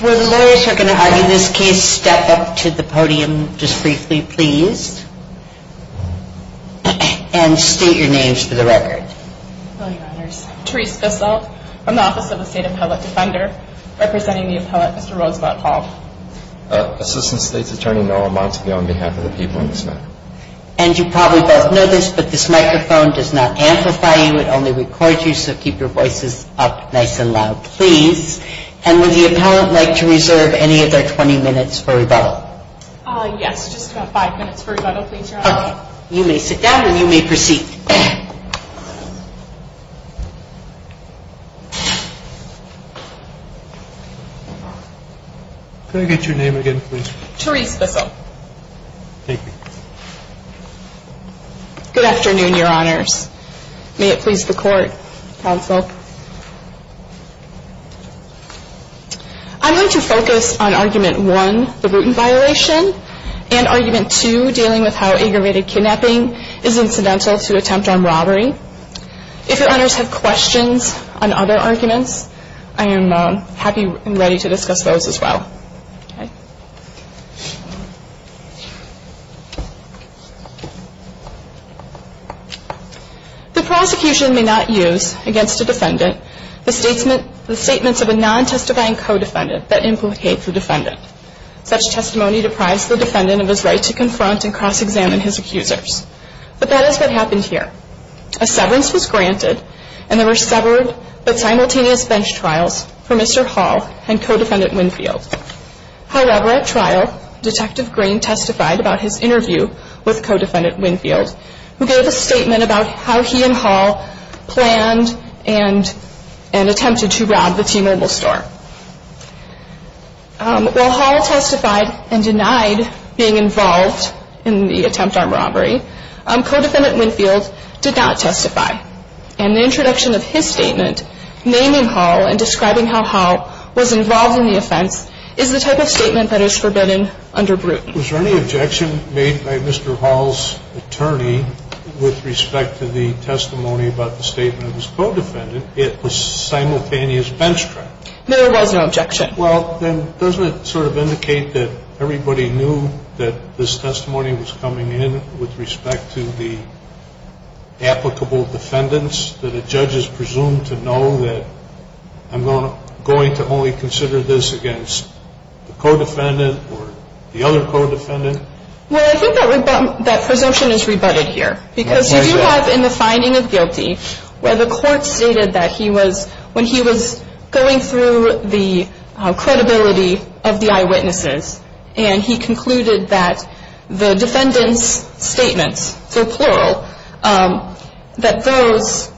Where the lawyers are going to argue this case, step up to the podium just briefly please. And state your names for the record. And you probably both know this, but this microphone does not amplify you, it only records you, so keep your voices up nice and loud please. And would the appellant like to reserve any of their 20 minutes for rebuttal? Yes, just about 5 minutes for rebuttal please, Your Honor. Okay, you may sit down and you may proceed. Could I get your name again please? Therese Bissell. Thank you. Good afternoon, Your Honors. May it please the Court, Counsel. I'm going to focus on Argument 1, the Bruton Violation, and Argument 2, dealing with how aggravated kidnapping is incidental to attempt armed robbery. If Your Honors have questions on other arguments, I am happy and ready to discuss those as well. The prosecution may not use against a defendant the statements of a non-testifying co-defendant that implicate the defendant. Such testimony deprives the defendant of his right to confront and cross-examine his accusers. But that is what happened here. A severance was granted and there were severed but simultaneous bench trials for Mr. Hall and Co-Defendant Winfield. However, at trial, Detective Green testified about his interview with Co-Defendant Winfield, who gave a statement about how he and Hall planned and attempted to rob the T-Mobile store. While Hall testified and denied being involved in the attempt armed robbery, Co-Defendant Winfield did not testify. And the introduction of his statement, naming Hall and describing how Hall was involved in the offense, is the type of statement that is forbidden under Bruton. Was there any objection made by Mr. Hall's attorney with respect to the testimony about the statement of his co-defendant? It was simultaneous bench trial. There was no objection. Well, then doesn't it sort of indicate that everybody knew that this testimony was coming in with respect to the applicable defendants? That a judge is presumed to know that I'm going to only consider this against the co-defendant or the other co-defendant? Well, I think that presumption is rebutted here. Because you do have in the finding of guilty where the court stated that when he was going through the credibility of the eyewitnesses, and he concluded that the defendants' statements, so plural, that those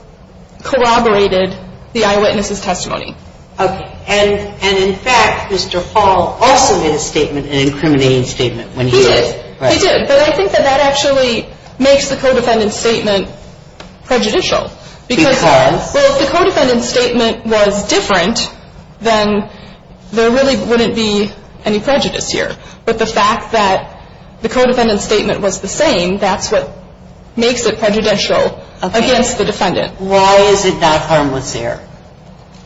corroborated the eyewitnesses' testimony. Okay. And in fact, Mr. Hall also made a statement, an incriminating statement, when he did. He did. But I think that that actually makes the co-defendant's statement prejudicial. Because? Well, if the co-defendant's statement was different, then there really wouldn't be any prejudice here. But the fact that the co-defendant's statement was the same, that's what makes it prejudicial against the defendant. Why is it not harmless error?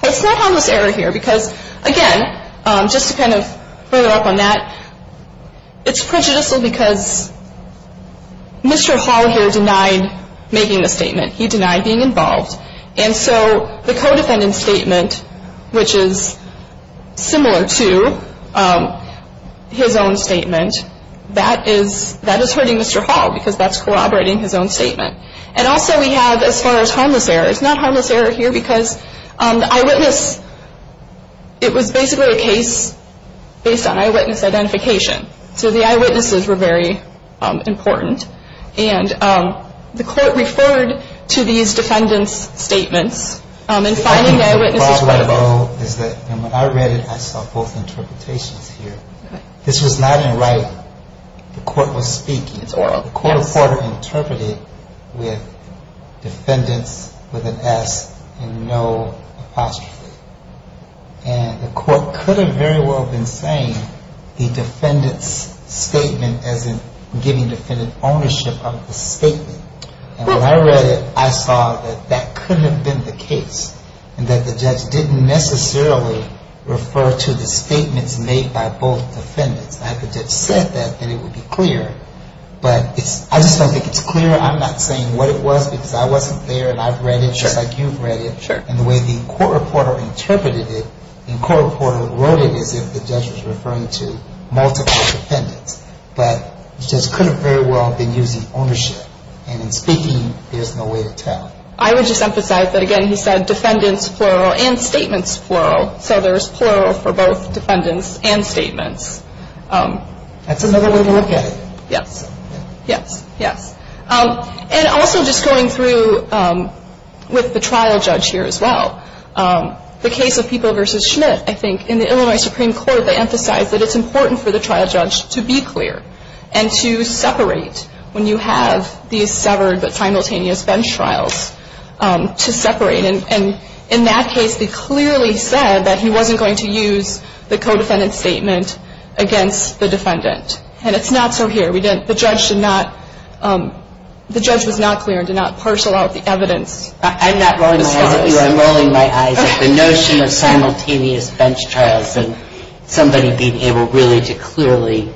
It's not harmless error here because, again, just to kind of further up on that, it's prejudicial because Mr. Hall here denied making the statement. He denied being involved. And so the co-defendant's statement, which is similar to his own statement, that is hurting Mr. Hall because that's corroborating his own statement. And also we have, as far as harmless error, it's not harmless error here because the eyewitness, it was basically a case based on eyewitness identification. So the eyewitnesses were very important. And the court referred to these defendants' statements in finding the eyewitnesses credible. I think the problem, though, is that when I read it, I saw both interpretations here. This was not in writing. The court was speaking. It's oral. The court interpreted with defendants with an S and no apostrophe. And the court could have very well been saying the defendant's statement as in giving the defendant ownership of the statement. And when I read it, I saw that that couldn't have been the case and that the judge didn't necessarily refer to the statements made by both defendants. If the judge said that, then it would be clear. But I just don't think it's clear. I'm not saying what it was because I wasn't there and I've read it just like you've read it. And the way the court reporter interpreted it, the court reporter wrote it as if the judge was referring to multiple defendants. But the judge could have very well been using ownership. And in speaking, there's no way to tell. I would just emphasize that, again, he said defendants plural and statements plural. So there's plural for both defendants and statements. That's another way to look at it. Yes. Yes. Yes. And also just going through with the trial judge here as well, the case of People v. Schmidt, I think, in the Illinois Supreme Court, they emphasized that it's important for the trial judge to be clear and to separate when you have these severed but simultaneous bench trials, to separate. And in that case, they clearly said that he wasn't going to use the co-defendant statement against the defendant. And it's not so here. We didn't – the judge did not – the judge was not clear and did not parcel out the evidence. I'm not rolling my eyes at you. I'm rolling my eyes at the notion of simultaneous bench trials and somebody being able really to clearly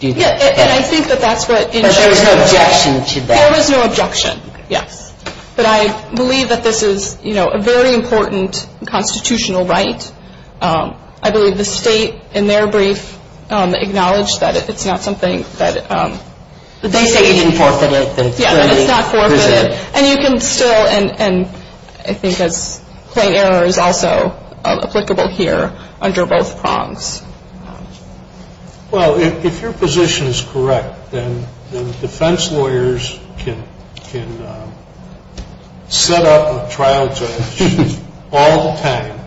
do that. And I think that that's what – But there was no objection to that. There was no objection. Yes. But I believe that this is, you know, a very important constitutional right. I believe the State, in their brief, acknowledged that it's not something that – But they say he didn't forfeit it. Yeah, but it's not forfeited. And you can still – and I think as plain error is also applicable here under both prongs. Well, if your position is correct, then defense lawyers can set up a trial judge all the time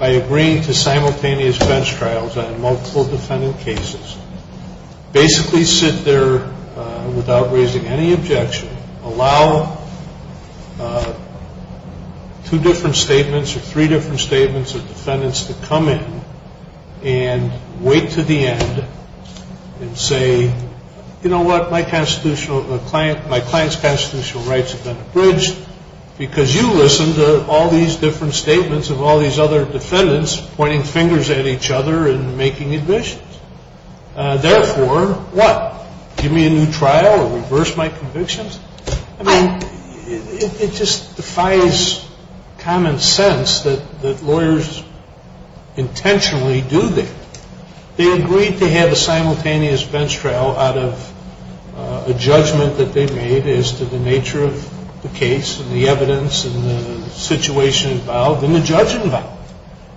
by agreeing to simultaneous bench trials on multiple defendant cases, basically sit there without raising any objection, allow two different statements or three different statements of defendants to come in and wait to the end and say, you know what, my constitutional – my client's constitutional rights have been abridged because you listened to all these different statements of all these other defendants pointing fingers at each other and making admissions. Therefore, what? Give me a new trial or reverse my convictions? I mean, it just defies common sense that lawyers intentionally do that. They agreed to have a simultaneous bench trial out of a judgment that they made as to the nature of the case and the evidence and the situation involved and the judge involved.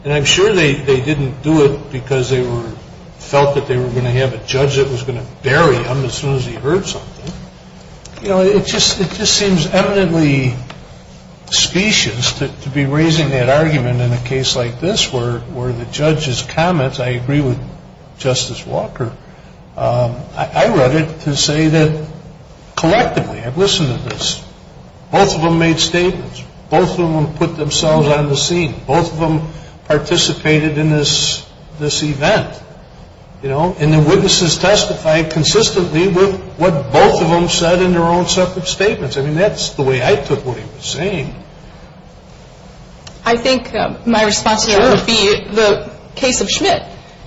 And I'm sure they didn't do it because they were – felt that they were going to have a judge that was going to bury them as soon as he heard something. You know, it just seems eminently specious to be raising that argument in a case like this where the judge's comments – I agree with Justice Walker. I read it to say that collectively I've listened to this. Both of them made statements. Both of them put themselves on the scene. Both of them participated in this event, you know. And the witnesses testified consistently with what both of them said in their own separate statements. I mean, that's the way I took what he was saying. I think my response to that would be the case of Schmidt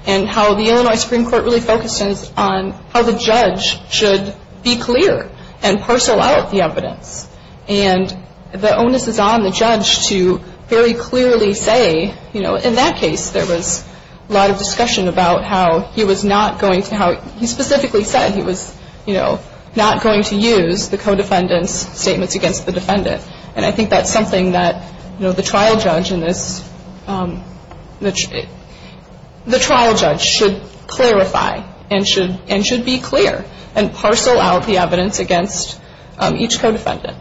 and how the Illinois Supreme Court really focuses on how the judge should be clear and parcel out the evidence. And the onus is on the judge to very clearly say, you know, in that case there was a lot of discussion about how he was not going to – how he specifically said he was, you know, not going to use the co-defendant's statements against the defendant. And I think that's something that, you know, the trial judge in this – the trial judge should clarify and should be clear and parcel out the evidence against each co-defendant.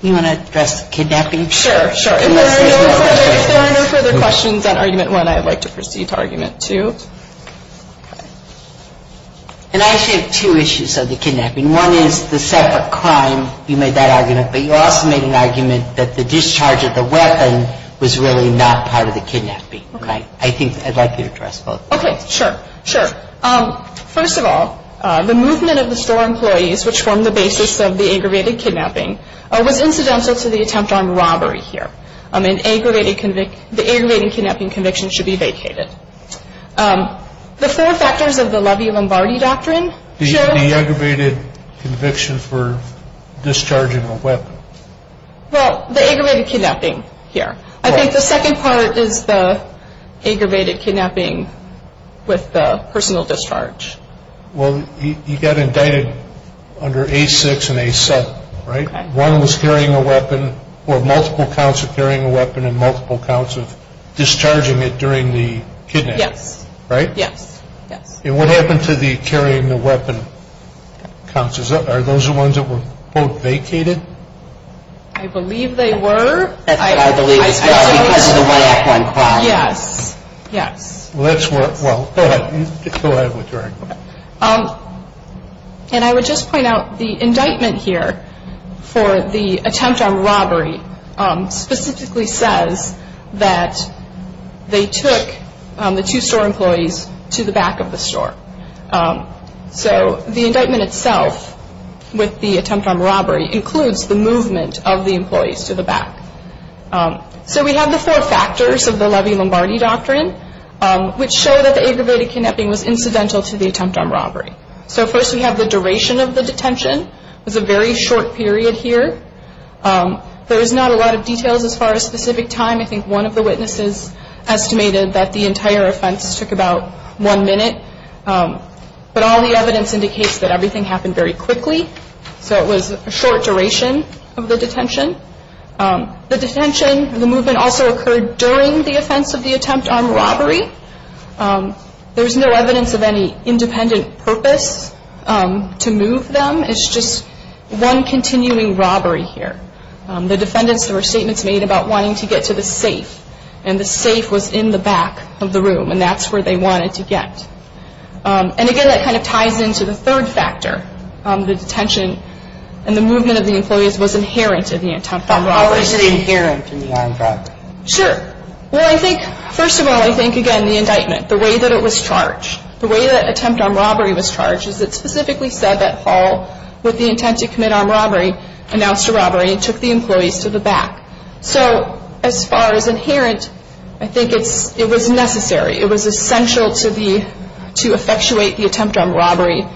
Do you want to address the kidnapping? Sure, sure. If there are no further questions on Argument 1, I would like to proceed to Argument 2. And I actually have two issues of the kidnapping. One is the separate crime. You made that argument. But you also made an argument that the discharge of the weapon was really not part of the kidnapping. Okay. I think I'd like you to address both. Okay. Sure. Sure. First of all, the movement of the store employees, which formed the basis of the aggravated kidnapping, was incidental to the attempt on robbery here. An aggravated – the aggravated kidnapping conviction should be vacated. The four factors of the Levy-Lombardi Doctrine show – The aggravated conviction for discharging a weapon. Well, the aggravated kidnapping here. I think the second part is the aggravated kidnapping with the personal discharge. Well, you got indicted under A6 and A7, right? Okay. One was carrying a weapon, or multiple counts of carrying a weapon and multiple counts of discharging it during the kidnapping. Yes. Right? Yes, yes. And what happened to the carrying the weapon counts? Are those the ones that were, quote, vacated? I believe they were. I believe it's because of the one-act-one crime. Yes, yes. Well, that's what – well, go ahead. Go ahead with your inquiry. And I would just point out the indictment here for the attempt on robbery specifically says that they took the two store employees to the back of the store. So the indictment itself with the attempt on robbery includes the movement of the employees to the back. So we have the four factors of the Levy-Lombardi Doctrine, which show that the aggravated kidnapping was incidental to the attempt on robbery. So first we have the duration of the detention. It was a very short period here. There was not a lot of details as far as specific time. I think one of the witnesses estimated that the entire offense took about one minute. But all the evidence indicates that everything happened very quickly. So it was a short duration of the detention. The detention, the movement also occurred during the offense of the attempt on robbery. There was no evidence of any independent purpose to move them. It's just one continuing robbery here. The defendants, there were statements made about wanting to get to the safe, and the safe was in the back of the room, and that's where they wanted to get. And, again, that kind of ties into the third factor, the detention and the movement of the employees was inherent in the attempt on robbery. How is it inherent in the armed robbery? Sure. Well, I think, first of all, I think, again, the indictment, the way that it was charged, the way that attempt on robbery was charged, is it specifically said that Hall, with the intent to commit armed robbery, announced a robbery and took the employees to the back. So as far as inherent, I think it was necessary. It was essential to effectuate the attempt on robbery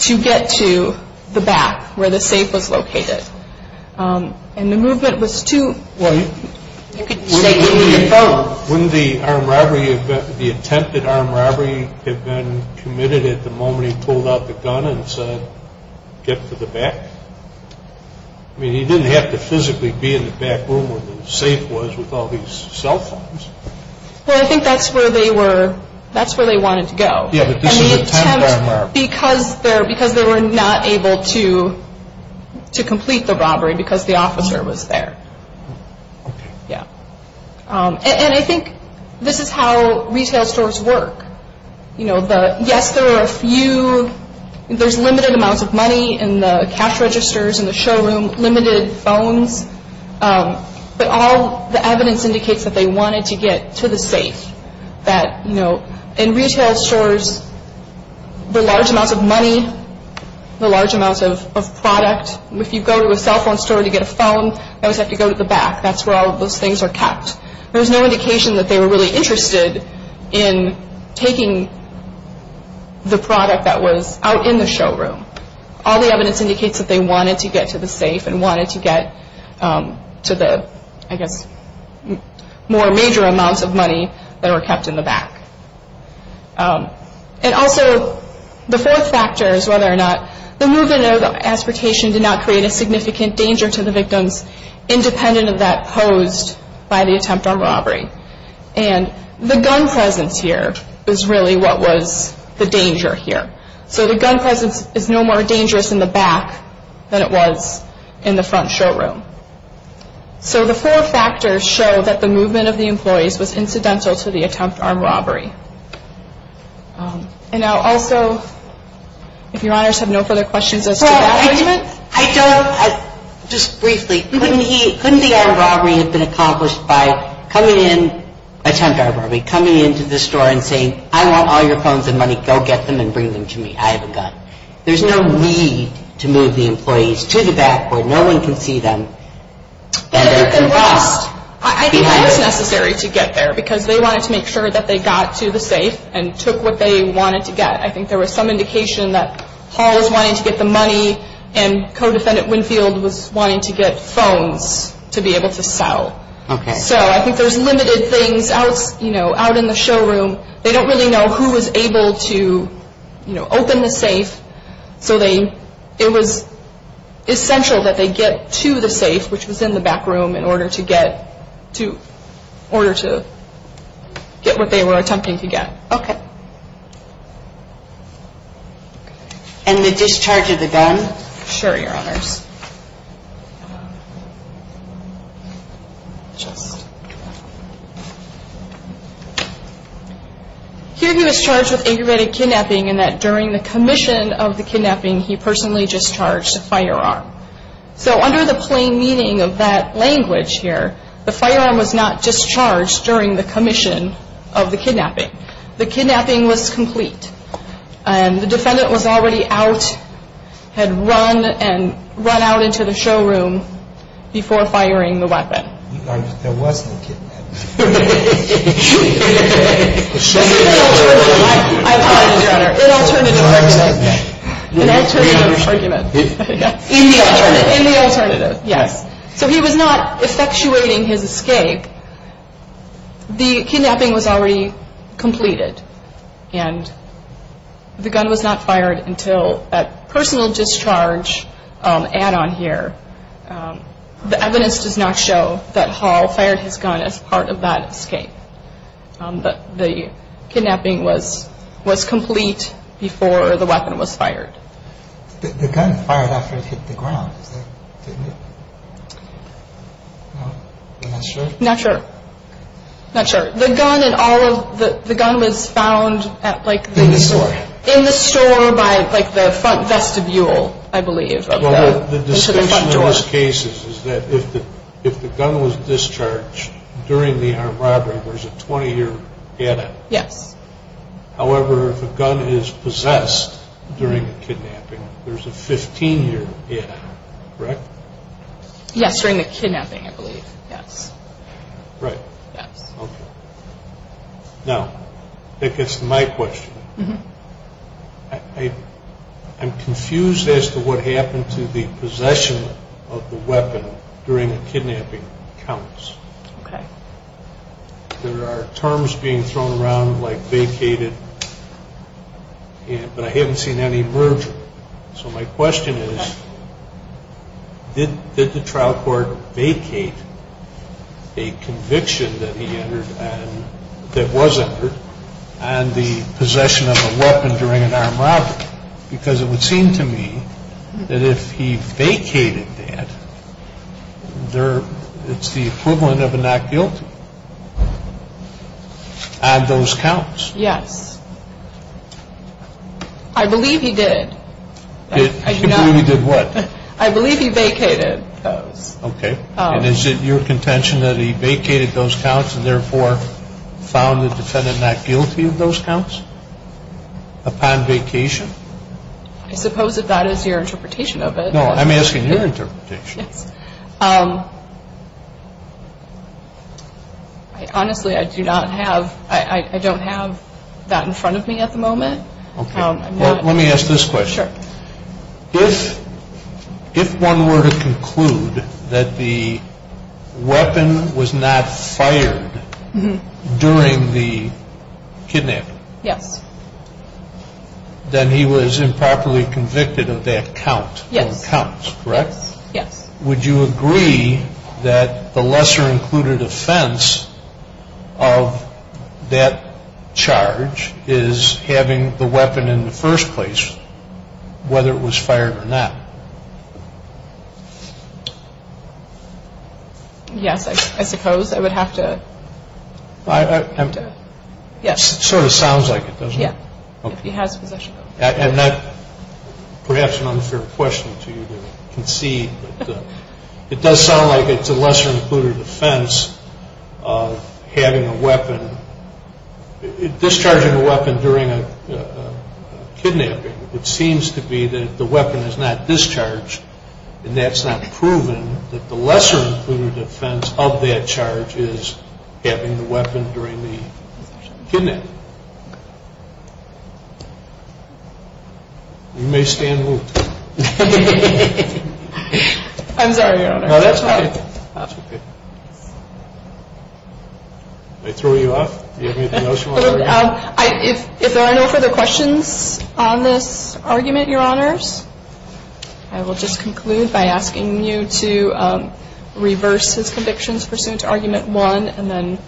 to get to the back, where the safe was located. And the movement was too – Well, wouldn't the attempted armed robbery have been committed at the moment he pulled out the gun and said, get to the back? I mean, he didn't have to physically be in the back room where the safe was with all these cell phones. Well, I think that's where they were – that's where they wanted to go. Yeah, but this is an attempt on robbery. Because they were not able to complete the robbery because the officer was there. Okay. Yeah. And I think this is how retail stores work. You know, yes, there are a few – there's limited amounts of money in the cash registers, in the showroom, limited phones. But all the evidence indicates that they wanted to get to the safe. That, you know, in retail stores, the large amounts of money, the large amounts of product – if you go to a cell phone store to get a phone, you always have to go to the back. That's where all of those things are kept. There was no indication that they were really interested in taking the product that was out in the showroom. All the evidence indicates that they wanted to get to the safe and wanted to get to the, I guess, more major amounts of money that were kept in the back. And also, the fourth factor is whether or not – the movement or the aspiration did not create a significant danger to the victims independent of that posed by the attempt on robbery. And the gun presence here is really what was the danger here. So the gun presence is no more dangerous in the back than it was in the front showroom. So the four factors show that the movement of the employees was incidental to the attempt on robbery. And I'll also – if Your Honors have no further questions as to that statement. I don't – just briefly, couldn't he – couldn't the armed robbery have been accomplished by coming in – attempt on robbery – coming into the store and saying, I want all your phones and money. Go get them and bring them to me. I have a gun. There's no need to move the employees to the back where no one can see them. And they can just – I think that was necessary to get there because they wanted to make sure that they got to the safe and took what they wanted to get. I think there was some indication that Hall was wanting to get the money and Co-Defendant Winfield was wanting to get phones to be able to sell. Okay. So I think there's limited things out, you know, out in the showroom. They don't really know who was able to, you know, open the safe. So they – it was essential that they get to the safe, which was in the back room, in order to get to – order to get what they were attempting to get. Okay. And the discharge of the gun? Sure, Your Honors. Here he was charged with aggravated kidnapping and that during the commission of the kidnapping, he personally discharged a firearm. So under the plain meaning of that language here, the firearm was not discharged during the commission of the kidnapping. The kidnapping was complete. And the defendant was already out, had run and run out into the showroom before firing the weapon. There was no kidnapping. This is an alternative. I apologize, Your Honor. An alternative argument. An alternative argument. In the alternative. In the alternative, yes. So he was not effectuating his escape. The kidnapping was already completed and the gun was not fired until that personal discharge add-on here. The evidence does not show that Hall fired his gun as part of that escape. But the kidnapping was complete before the weapon was fired. The gun fired after it hit the ground, didn't it? I'm not sure. Not sure. Not sure. The gun and all of the gun was found at like the store. In the store. In the store by like the front vestibule, I believe. Well, the distinction in those cases is that if the gun was discharged during the armed robbery, there's a 20-year add-on. Yes. However, if a gun is possessed during the kidnapping, there's a 15-year add-on, correct? Yes, during the kidnapping, I believe. Yes. Right. Yes. Okay. Now, that gets to my question. I'm confused as to what happened to the possession of the weapon during the kidnapping accounts. Okay. There are terms being thrown around like vacated, but I haven't seen any merger. So my question is, did the trial court vacate a conviction that he entered and that was entered on the possession of a weapon during an armed robbery? Because it would seem to me that if he vacated that, it's the equivalent of a not guilty on those counts. Yes. I believe he did. He did what? I believe he vacated those. Okay. And is it your contention that he vacated those counts and therefore found the defendant not guilty of those counts upon vacation? I suppose if that is your interpretation of it. No, I'm asking your interpretation. Yes. Honestly, I do not have that in front of me at the moment. Okay. Let me ask this question. Sure. If one were to conclude that the weapon was not fired during the kidnapping. Yes. Then he was improperly convicted of that count. Yes. On the counts, correct? Yes. Would you agree that the lesser included offense of that charge is having the weapon in the first place, whether it was fired or not? Yes, I suppose I would have to. It sort of sounds like it, doesn't it? Yes, if he has possession of it. Perhaps an unfair question to you to concede, but it does sound like it's a lesser included offense of having a weapon, discharging a weapon during a kidnapping. It seems to be that the weapon is not discharged and that's not proven that the lesser included offense of that charge is having the weapon during the kidnapping. You may stand and move. I'm sorry, Your Honor. That's okay. Did I throw you off? Do you have anything else you want to add? If there are no further questions on this argument, Your Honors, I will just conclude by asking you to reverse his convictions pursuant to Argument 1 and then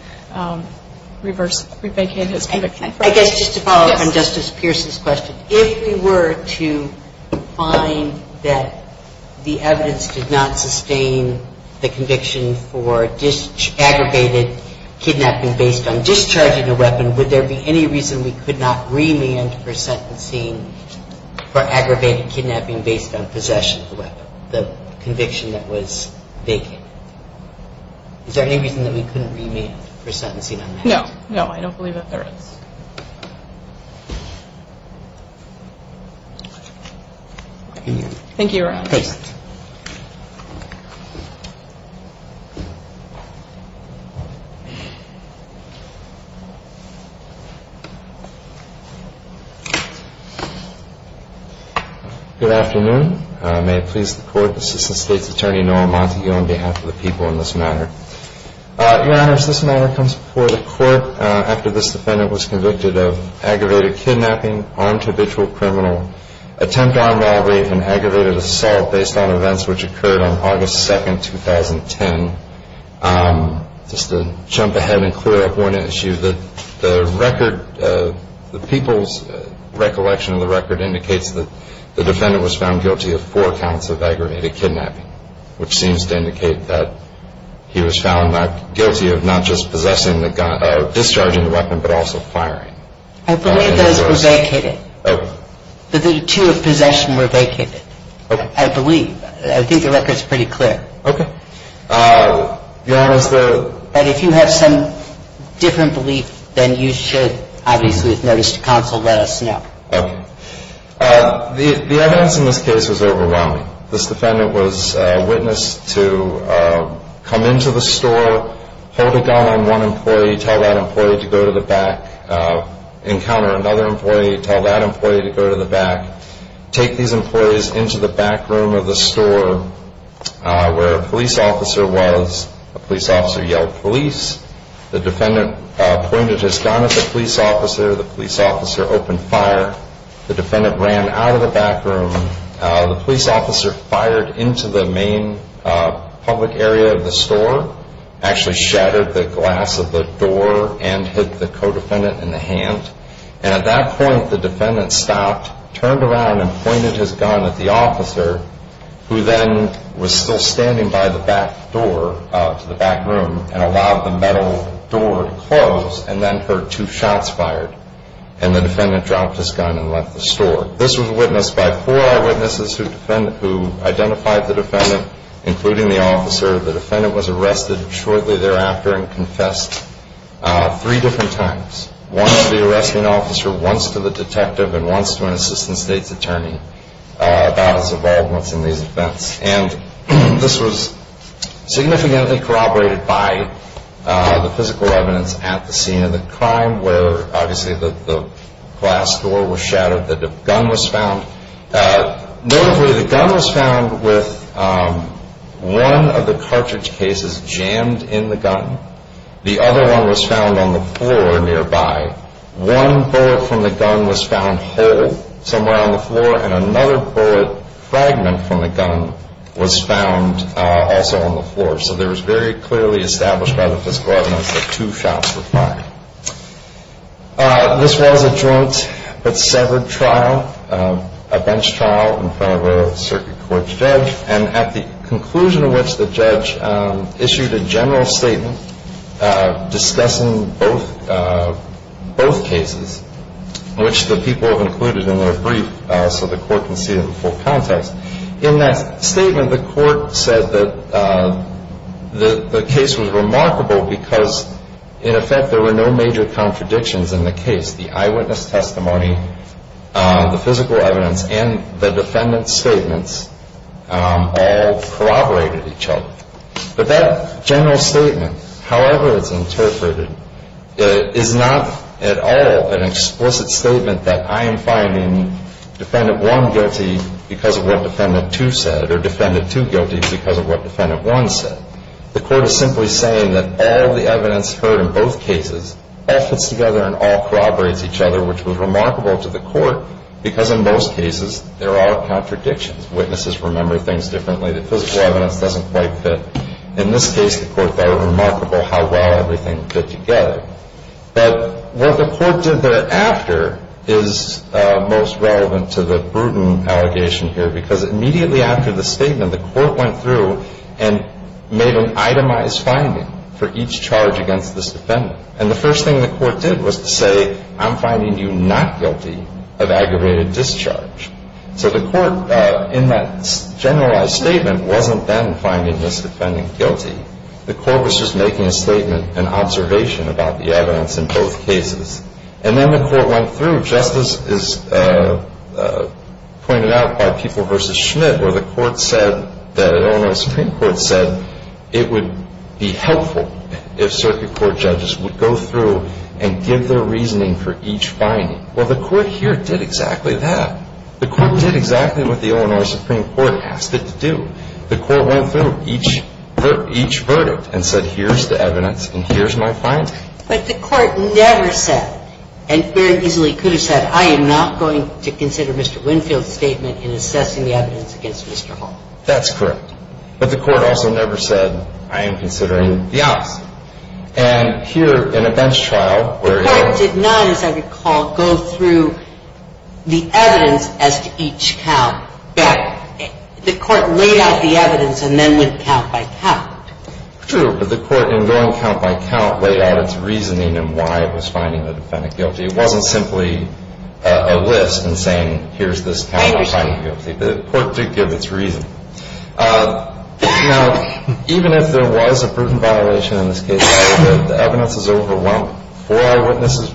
re-vacate his conviction. I guess just to follow up on Justice Pierce's question, if we were to find that the evidence did not sustain the conviction for aggravated kidnapping based on discharging a weapon, would there be any reason we could not remand for sentencing for aggravated kidnapping based on possession of the weapon, the conviction that was vacant? Is there any reason that we couldn't remand for sentencing on that? No, I don't believe that there is. Thank you, Your Honor. Thank you. Good afternoon. May it please the Court, Assistant State's Attorney Noah Montague, on behalf of the people in this matter. Your Honors, this matter comes before the Court after this defendant was convicted of aggravated kidnapping, armed habitual criminal, attempt on robbery, and aggravated assault based on events which occurred on August 2, 2010. Just to jump ahead and clear up one issue, the record, the people's recollection of the record, indicates that the defendant was found guilty of four counts of aggravated kidnapping, which seems to indicate that he was found guilty of not just discharging the weapon, but also firing. I believe those were vacated. Okay. The two of possession were vacated. Okay. I believe. I think the record's pretty clear. Okay. Your Honors, the... But if you have some different belief, then you should, obviously, with notice to counsel, let us know. Okay. The evidence in this case was overwhelming. This defendant was a witness to come into the store, hold a gun on one employee, tell that employee to go to the back, encounter another employee, tell that employee to go to the back, take these employees into the back room of the store where a police officer was. A police officer yelled, police. The defendant pointed his gun at the police officer. The police officer opened fire. The defendant ran out of the back room. The police officer fired into the main public area of the store, actually shattered the glass of the door and hit the co-defendant in the hand. And at that point, the defendant stopped, turned around, and pointed his gun at the officer, who then was still standing by the back door to the back room and allowed the metal door to close and then heard two shots fired. And the defendant dropped his gun and left the store. This was witnessed by four eyewitnesses who identified the defendant, including the officer. The defendant was arrested shortly thereafter and confessed three different times, once to the arresting officer, once to the detective, and once to an assistant state's attorney about his involvement in these events. And this was significantly corroborated by the physical evidence at the scene of the crime where, obviously, the glass door was shattered, the gun was found. Notably, the gun was found with one of the cartridge cases jammed in the gun. The other one was found on the floor nearby. One bullet from the gun was found whole somewhere on the floor and another bullet fragment from the gun was found also on the floor. So there was very clearly established by the physical evidence that two shots were fired. This was a joint but severed trial, a bench trial in front of a circuit court judge, and at the conclusion of which the judge issued a general statement discussing both cases, which the people have included in their brief so the court can see it in full context. In that statement, the court said that the case was remarkable because, in effect, there were no major contradictions in the case. The eyewitness testimony, the physical evidence, and the defendant's statements all corroborated each other. But that general statement, however it's interpreted, is not at all an explicit statement that I am finding Defendant 1 guilty because of what Defendant 2 said or Defendant 2 guilty because of what Defendant 1 said. The court is simply saying that all the evidence heard in both cases all fits together and all corroborates each other, which was remarkable to the court because, in most cases, there are contradictions. Witnesses remember things differently. The physical evidence doesn't quite fit. In this case, the court thought it remarkable how well everything fit together. But what the court did thereafter is most relevant to the Bruton allegation here because immediately after the statement, the court went through and made an itemized finding for each charge against this defendant. And the first thing the court did was to say, I'm finding you not guilty of aggravated discharge. So the court, in that generalized statement, wasn't then finding this defendant guilty. The court was just making a statement, an observation about the evidence in both cases. And then the court went through, just as is pointed out by People v. Schmidt, where the court said that Illinois Supreme Court said it would be helpful if circuit court judges would go through and give their reasoning for each finding. Well, the court here did exactly that. The court did exactly what the Illinois Supreme Court asked it to do. The court went through each verdict and said, here's the evidence and here's my finding. But the court never said, and very easily could have said, I am not going to consider Mr. Winfield's statement in assessing the evidence against Mr. Hall. That's correct. But the court also never said, I am considering the opposite. And here, in a bench trial, where you have to go through. The evidence as to each count. Right. The court laid out the evidence and then went count by count. True. But the court, in going count by count, laid out its reasoning and why it was finding the defendant guilty. It wasn't simply a list and saying, here's this count of finding guilty. I understand. The court did give its reason. Now, even if there was a proven violation in this case, the evidence is overwhelmed. Four eyewitnesses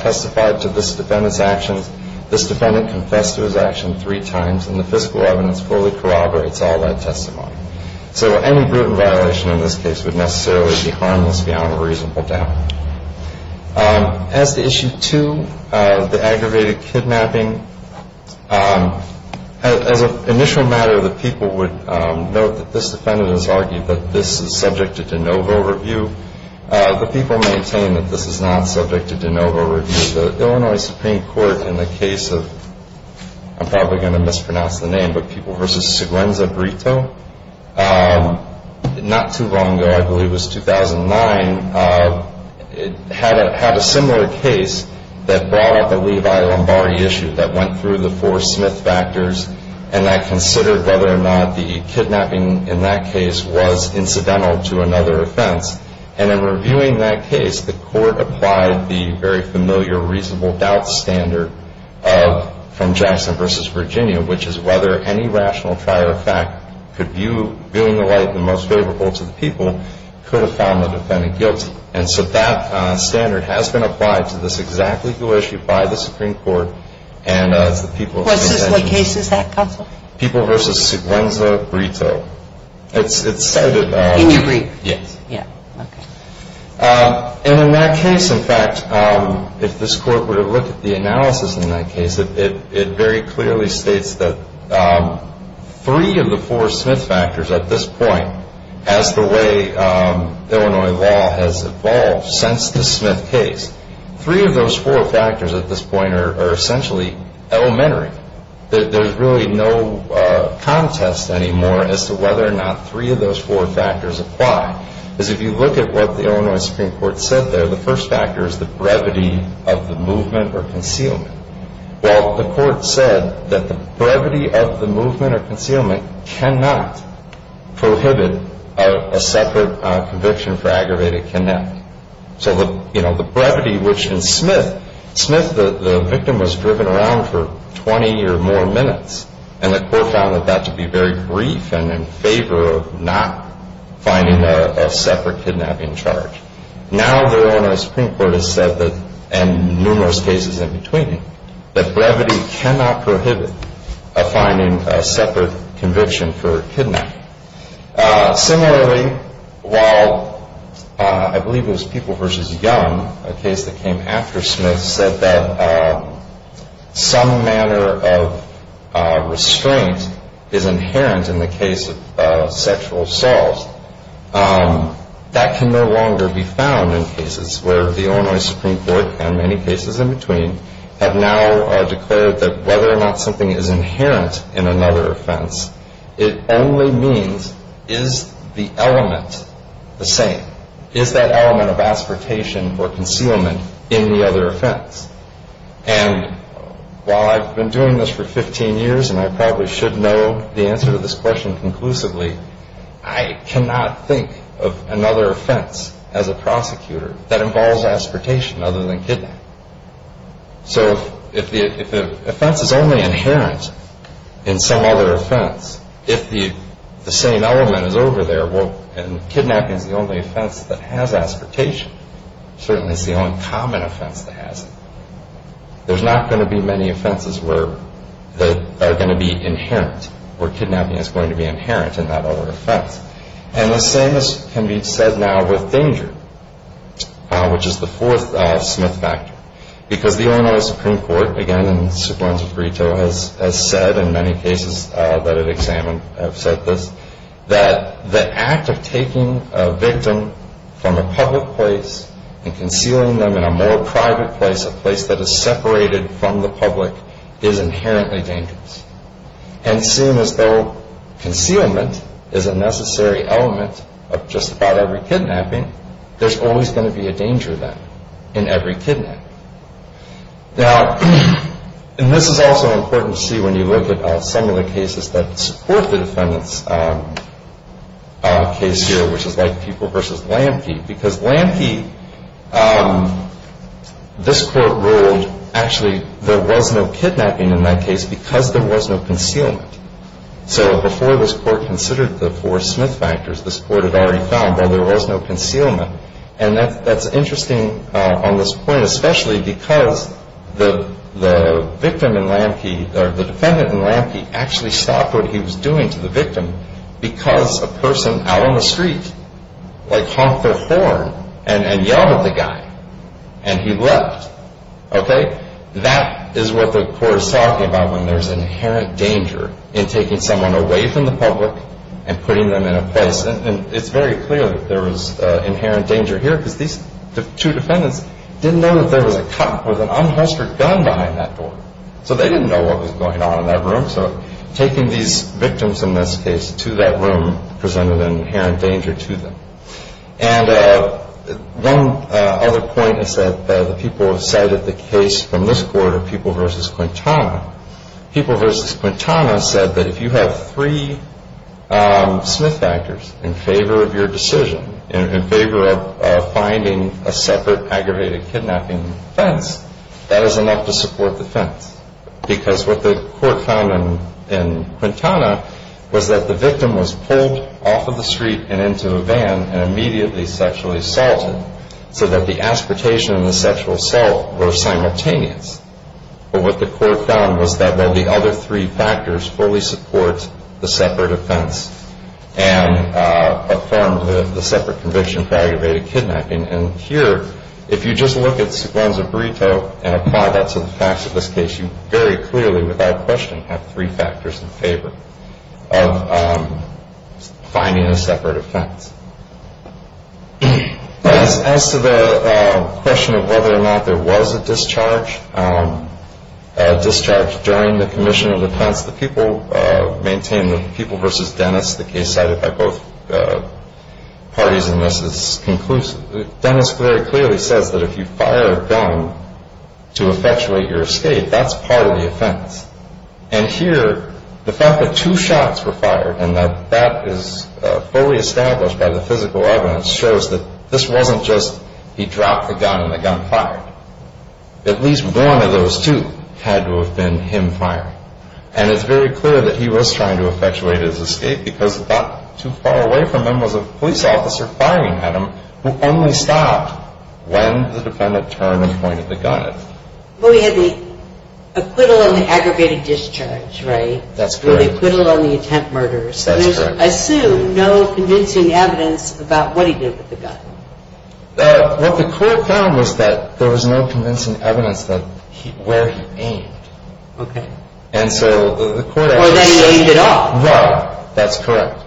testified to this defendant's actions. This defendant confessed to his action three times, and the fiscal evidence fully corroborates all that testimony. So any proven violation in this case would necessarily be harmless beyond a reasonable doubt. As to Issue 2, the aggravated kidnapping, as an initial matter, the people would note that this defendant has argued that this is subject to de novo review. The people maintain that this is not subject to de novo review. The Illinois Supreme Court, in the case of, I'm probably going to mispronounce the name, but People v. Seguenza-Britto, not too long ago, I believe it was 2009, had a similar case that brought up a Levi-Lombardi issue that went through the four Smith factors and that considered whether or not the kidnapping in that case was incidental to another offense. And in reviewing that case, the court applied the very familiar reasonable doubt standard from Jackson v. Virginia, which is whether any rational prior effect could view in the light the most favorable to the people could have found the defendant guilty. And so that standard has been applied to this exact legal issue by the Supreme Court and the people. Kagan. What case is that, counsel? People v. Seguenza-Britto. It's said that... In your brief? Yes. Yeah. Okay. And in that case, in fact, if this Court were to look at the analysis in that case, it very clearly states that three of the four Smith factors at this point, as the way Illinois law has evolved since the Smith case, three of those four factors at this point are essentially elementary. There's really no contest anymore as to whether or not three of those four factors apply. Because if you look at what the Illinois Supreme Court said there, the first factor is the brevity of the movement or concealment. Well, the Court said that the brevity of the movement or concealment cannot prohibit a separate conviction for aggravated kidnapping. So the brevity, which in Smith, the victim was driven around for 20 or more minutes, and the Court found that to be very brief and in favor of not finding a separate kidnapping charge. Now the Illinois Supreme Court has said, and numerous cases in between, that brevity cannot prohibit finding a separate conviction for kidnapping. Similarly, while I believe it was People v. Young, a case that came after Smith, said that some manner of restraint is inherent in the case of sexual assault. That can no longer be found in cases where the Illinois Supreme Court, and many cases in between, have now declared that whether or not something is inherent in another offense, it only means is the element the same. Is that element of aspiratation or concealment in the other offense? And while I've been doing this for 15 years, and I probably should know the answer to this question conclusively, I cannot think of another offense as a prosecutor that involves aspiratation other than kidnapping. So if the offense is only inherent in some other offense, if the same element is over there, and kidnapping is the only offense that has aspiratation, certainly it's the only common offense that has it, there's not going to be many offenses that are going to be inherent, where kidnapping is going to be inherent in that other offense. And the same can be said now with danger, which is the fourth Smith factor. Because the Illinois Supreme Court, again, in su plenum frito, has said in many cases that it examined, have said this, that the act of taking a victim from a public place and concealing them in a more private place, a place that is separated from the public, is inherently dangerous. And seeing as though concealment is a necessary element of just about every kidnapping, there's always going to be a danger then in every kidnapping. Now, and this is also important to see when you look at some of the cases that support the defendant's case here, which is like Pupil v. Lamke. Because Lamke, this court ruled, actually, there was no kidnapping in that case because there was no concealment. So before this court considered the four Smith factors, this court had already found, well, there was no concealment. And that's interesting on this point, especially because the victim in Lamke, or the defendant in Lamke, actually stopped what he was doing to the victim because a person out on the street, like Humphrey Thorne, and yelled at the guy, and he left. That is what the court is talking about when there's inherent danger in taking someone away from the public and putting them in a place. And it's very clear that there was inherent danger here because these two defendants didn't know that there was a cop with an unholstered gun behind that door. So they didn't know what was going on in that room. So taking these victims, in this case, to that room presented an inherent danger to them. And one other point is that the people who cited the case from this court are People v. Quintana. People v. Quintana said that if you have three Smith factors in favor of your decision, in favor of finding a separate aggravated kidnapping offense, that is enough to support the offense. Because what the court found in Quintana was that the victim was pulled off of the street and into a van and immediately sexually assaulted, so that the aspiratation and the sexual assault were simultaneous. But what the court found was that while the other three factors fully support the separate offense and affirmed the separate conviction for aggravated kidnapping, and here, if you just look at Siguanza Burrito and apply that to the facts of this case, you very clearly, without question, have three factors in favor of finding a separate offense. As to the question of whether or not there was a discharge during the commission of defense, the People maintained that People v. Dennis, the case cited by both parties in this, is conclusive. Dennis very clearly says that if you fire a gun to effectuate your escape, that's part of the offense. And here, the fact that two shots were fired and that that is fully established by the physical evidence shows that this wasn't just he dropped the gun and the gun fired. At least one of those two had to have been him firing. And it's very clear that he was trying to effectuate his escape because not too far away from him was a police officer firing at him who only stopped when the defendant turned and pointed the gun at him. Well, he had the acquittal on the aggravated discharge, right? That's correct. And the acquittal on the attempt murders. That's correct. So there's, I assume, no convincing evidence about what he did with the gun. What the court found was that there was no convincing evidence that where he aimed. Okay. And so the court actually says... Or that he aimed it off. Right. That's correct.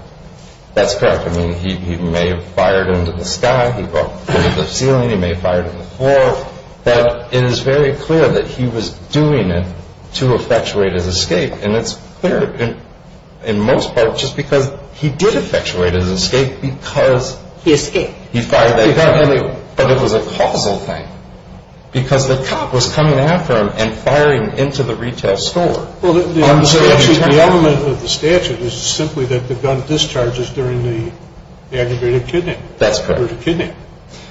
That's correct. I mean, he may have fired into the sky. He may have fired into the ceiling. He may have fired into the floor. But it is very clear that he was doing it to effectuate his escape. And it's clear in most parts just because he did effectuate his escape because... He escaped. He fired that gun. But it was a causal thing because the cop was coming after him and firing into the retail store. Well, the element of the statute is simply that the gun discharges during the aggravated kidnapping. That's correct.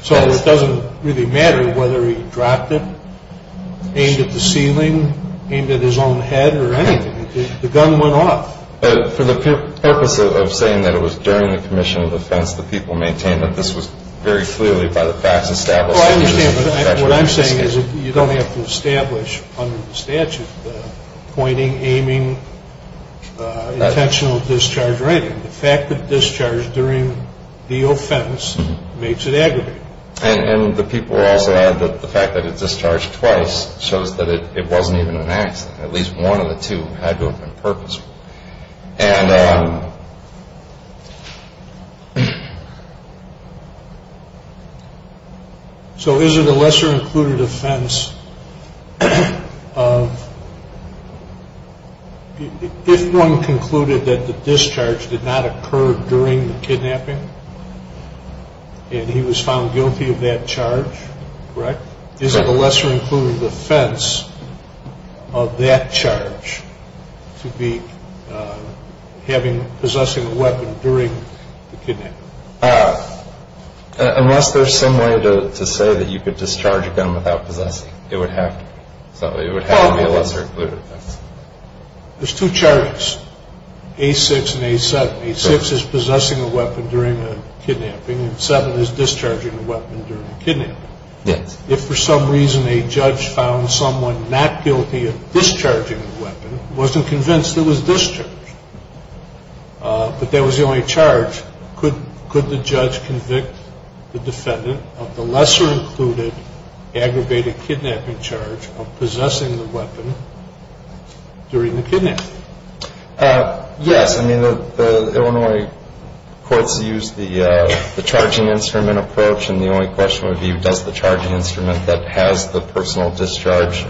So it doesn't really matter whether he dropped it, aimed at the ceiling, aimed at his own head or anything. The gun went off. For the purpose of saying that it was during the commission of offense the people maintained that this was very clearly by the facts established... What I'm saying is you don't have to establish under the statute the pointing, aiming, intentional discharge rating. The fact that it discharged during the offense makes it aggravated. And the people also add that the fact that it discharged twice shows that it wasn't even an accident. At least one of the two had to have been purposeful. And... So is it a lesser included offense of... If one concluded that the discharge did not occur during the kidnapping and he was found guilty of that charge, correct? Is it a lesser included offense of that charge to be possessing a weapon during the kidnapping? Unless there's some way to say that you could discharge a gun without possessing it. It would have to be a lesser included offense. There's two charges, A6 and A7. A6 is possessing a weapon during a kidnapping and A7 is discharging a weapon during a kidnapping. If for some reason a judge found someone not guilty of discharging a weapon, wasn't convinced it was discharged, but that was the only charge, could the judge convict the defendant of the lesser included aggravated kidnapping charge of possessing the weapon during the kidnapping? Yes. I mean, the Illinois courts used the charging instrument approach and the only question would be does the charging instrument that has the personal discharge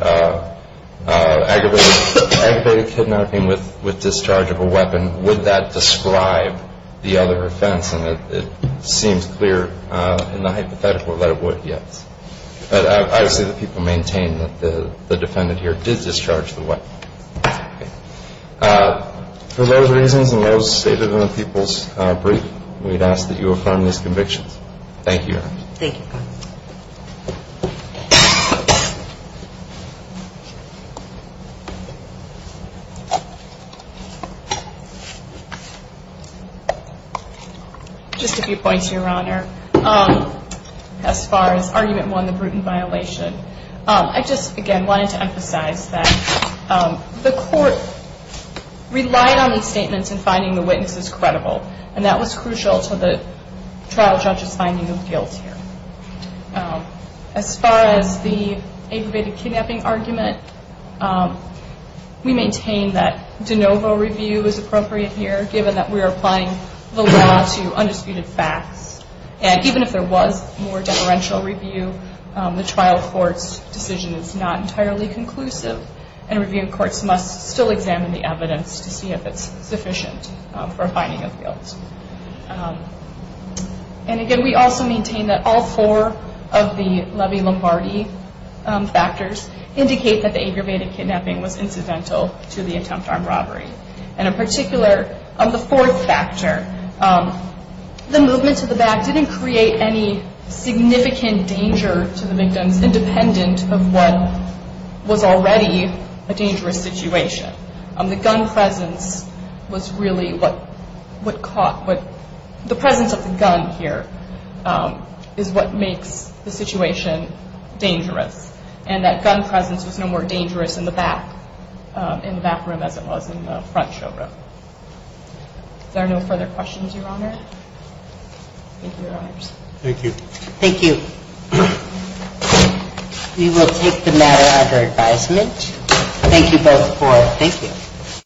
aggravated kidnapping with discharge of a weapon, would that describe the other offense? And it seems clear in the hypothetical that it would, yes. But obviously the people maintain that the defendant here did discharge the weapon. For those reasons and those stated in the people's brief, we'd ask that you affirm these convictions. Thank you, Your Honor. Thank you. Just a few points, Your Honor. As far as argument one, the Bruton violation, I just, again, wanted to emphasize that the court relied on these statements in finding the witnesses credible and that was crucial to the trial judge's finding of guilt here. As far as the aggravated kidnapping argument, we maintain that de novo review is appropriate here given that we are applying the law to undisputed facts. And even if there was more deferential review, the trial court's decision is not entirely conclusive and review courts must still examine the evidence to see if it's sufficient for finding of guilt. And again, we also maintain that all four of the Levy-Lombardi factors indicate that the aggravated kidnapping was incidental to the attempt armed robbery. And in particular, the fourth factor, the movement to the back didn't create any significant danger to the victims independent of what was already a dangerous situation. The gun presence was really what caught, the presence of the gun here is what makes the situation dangerous and that gun presence was no more dangerous in the back room as it was in the front showroom. Is there no further questions, Your Honor? Thank you, Your Honors. Thank you. Thank you. We will take the matter under advisement. Thank you both for, thank you.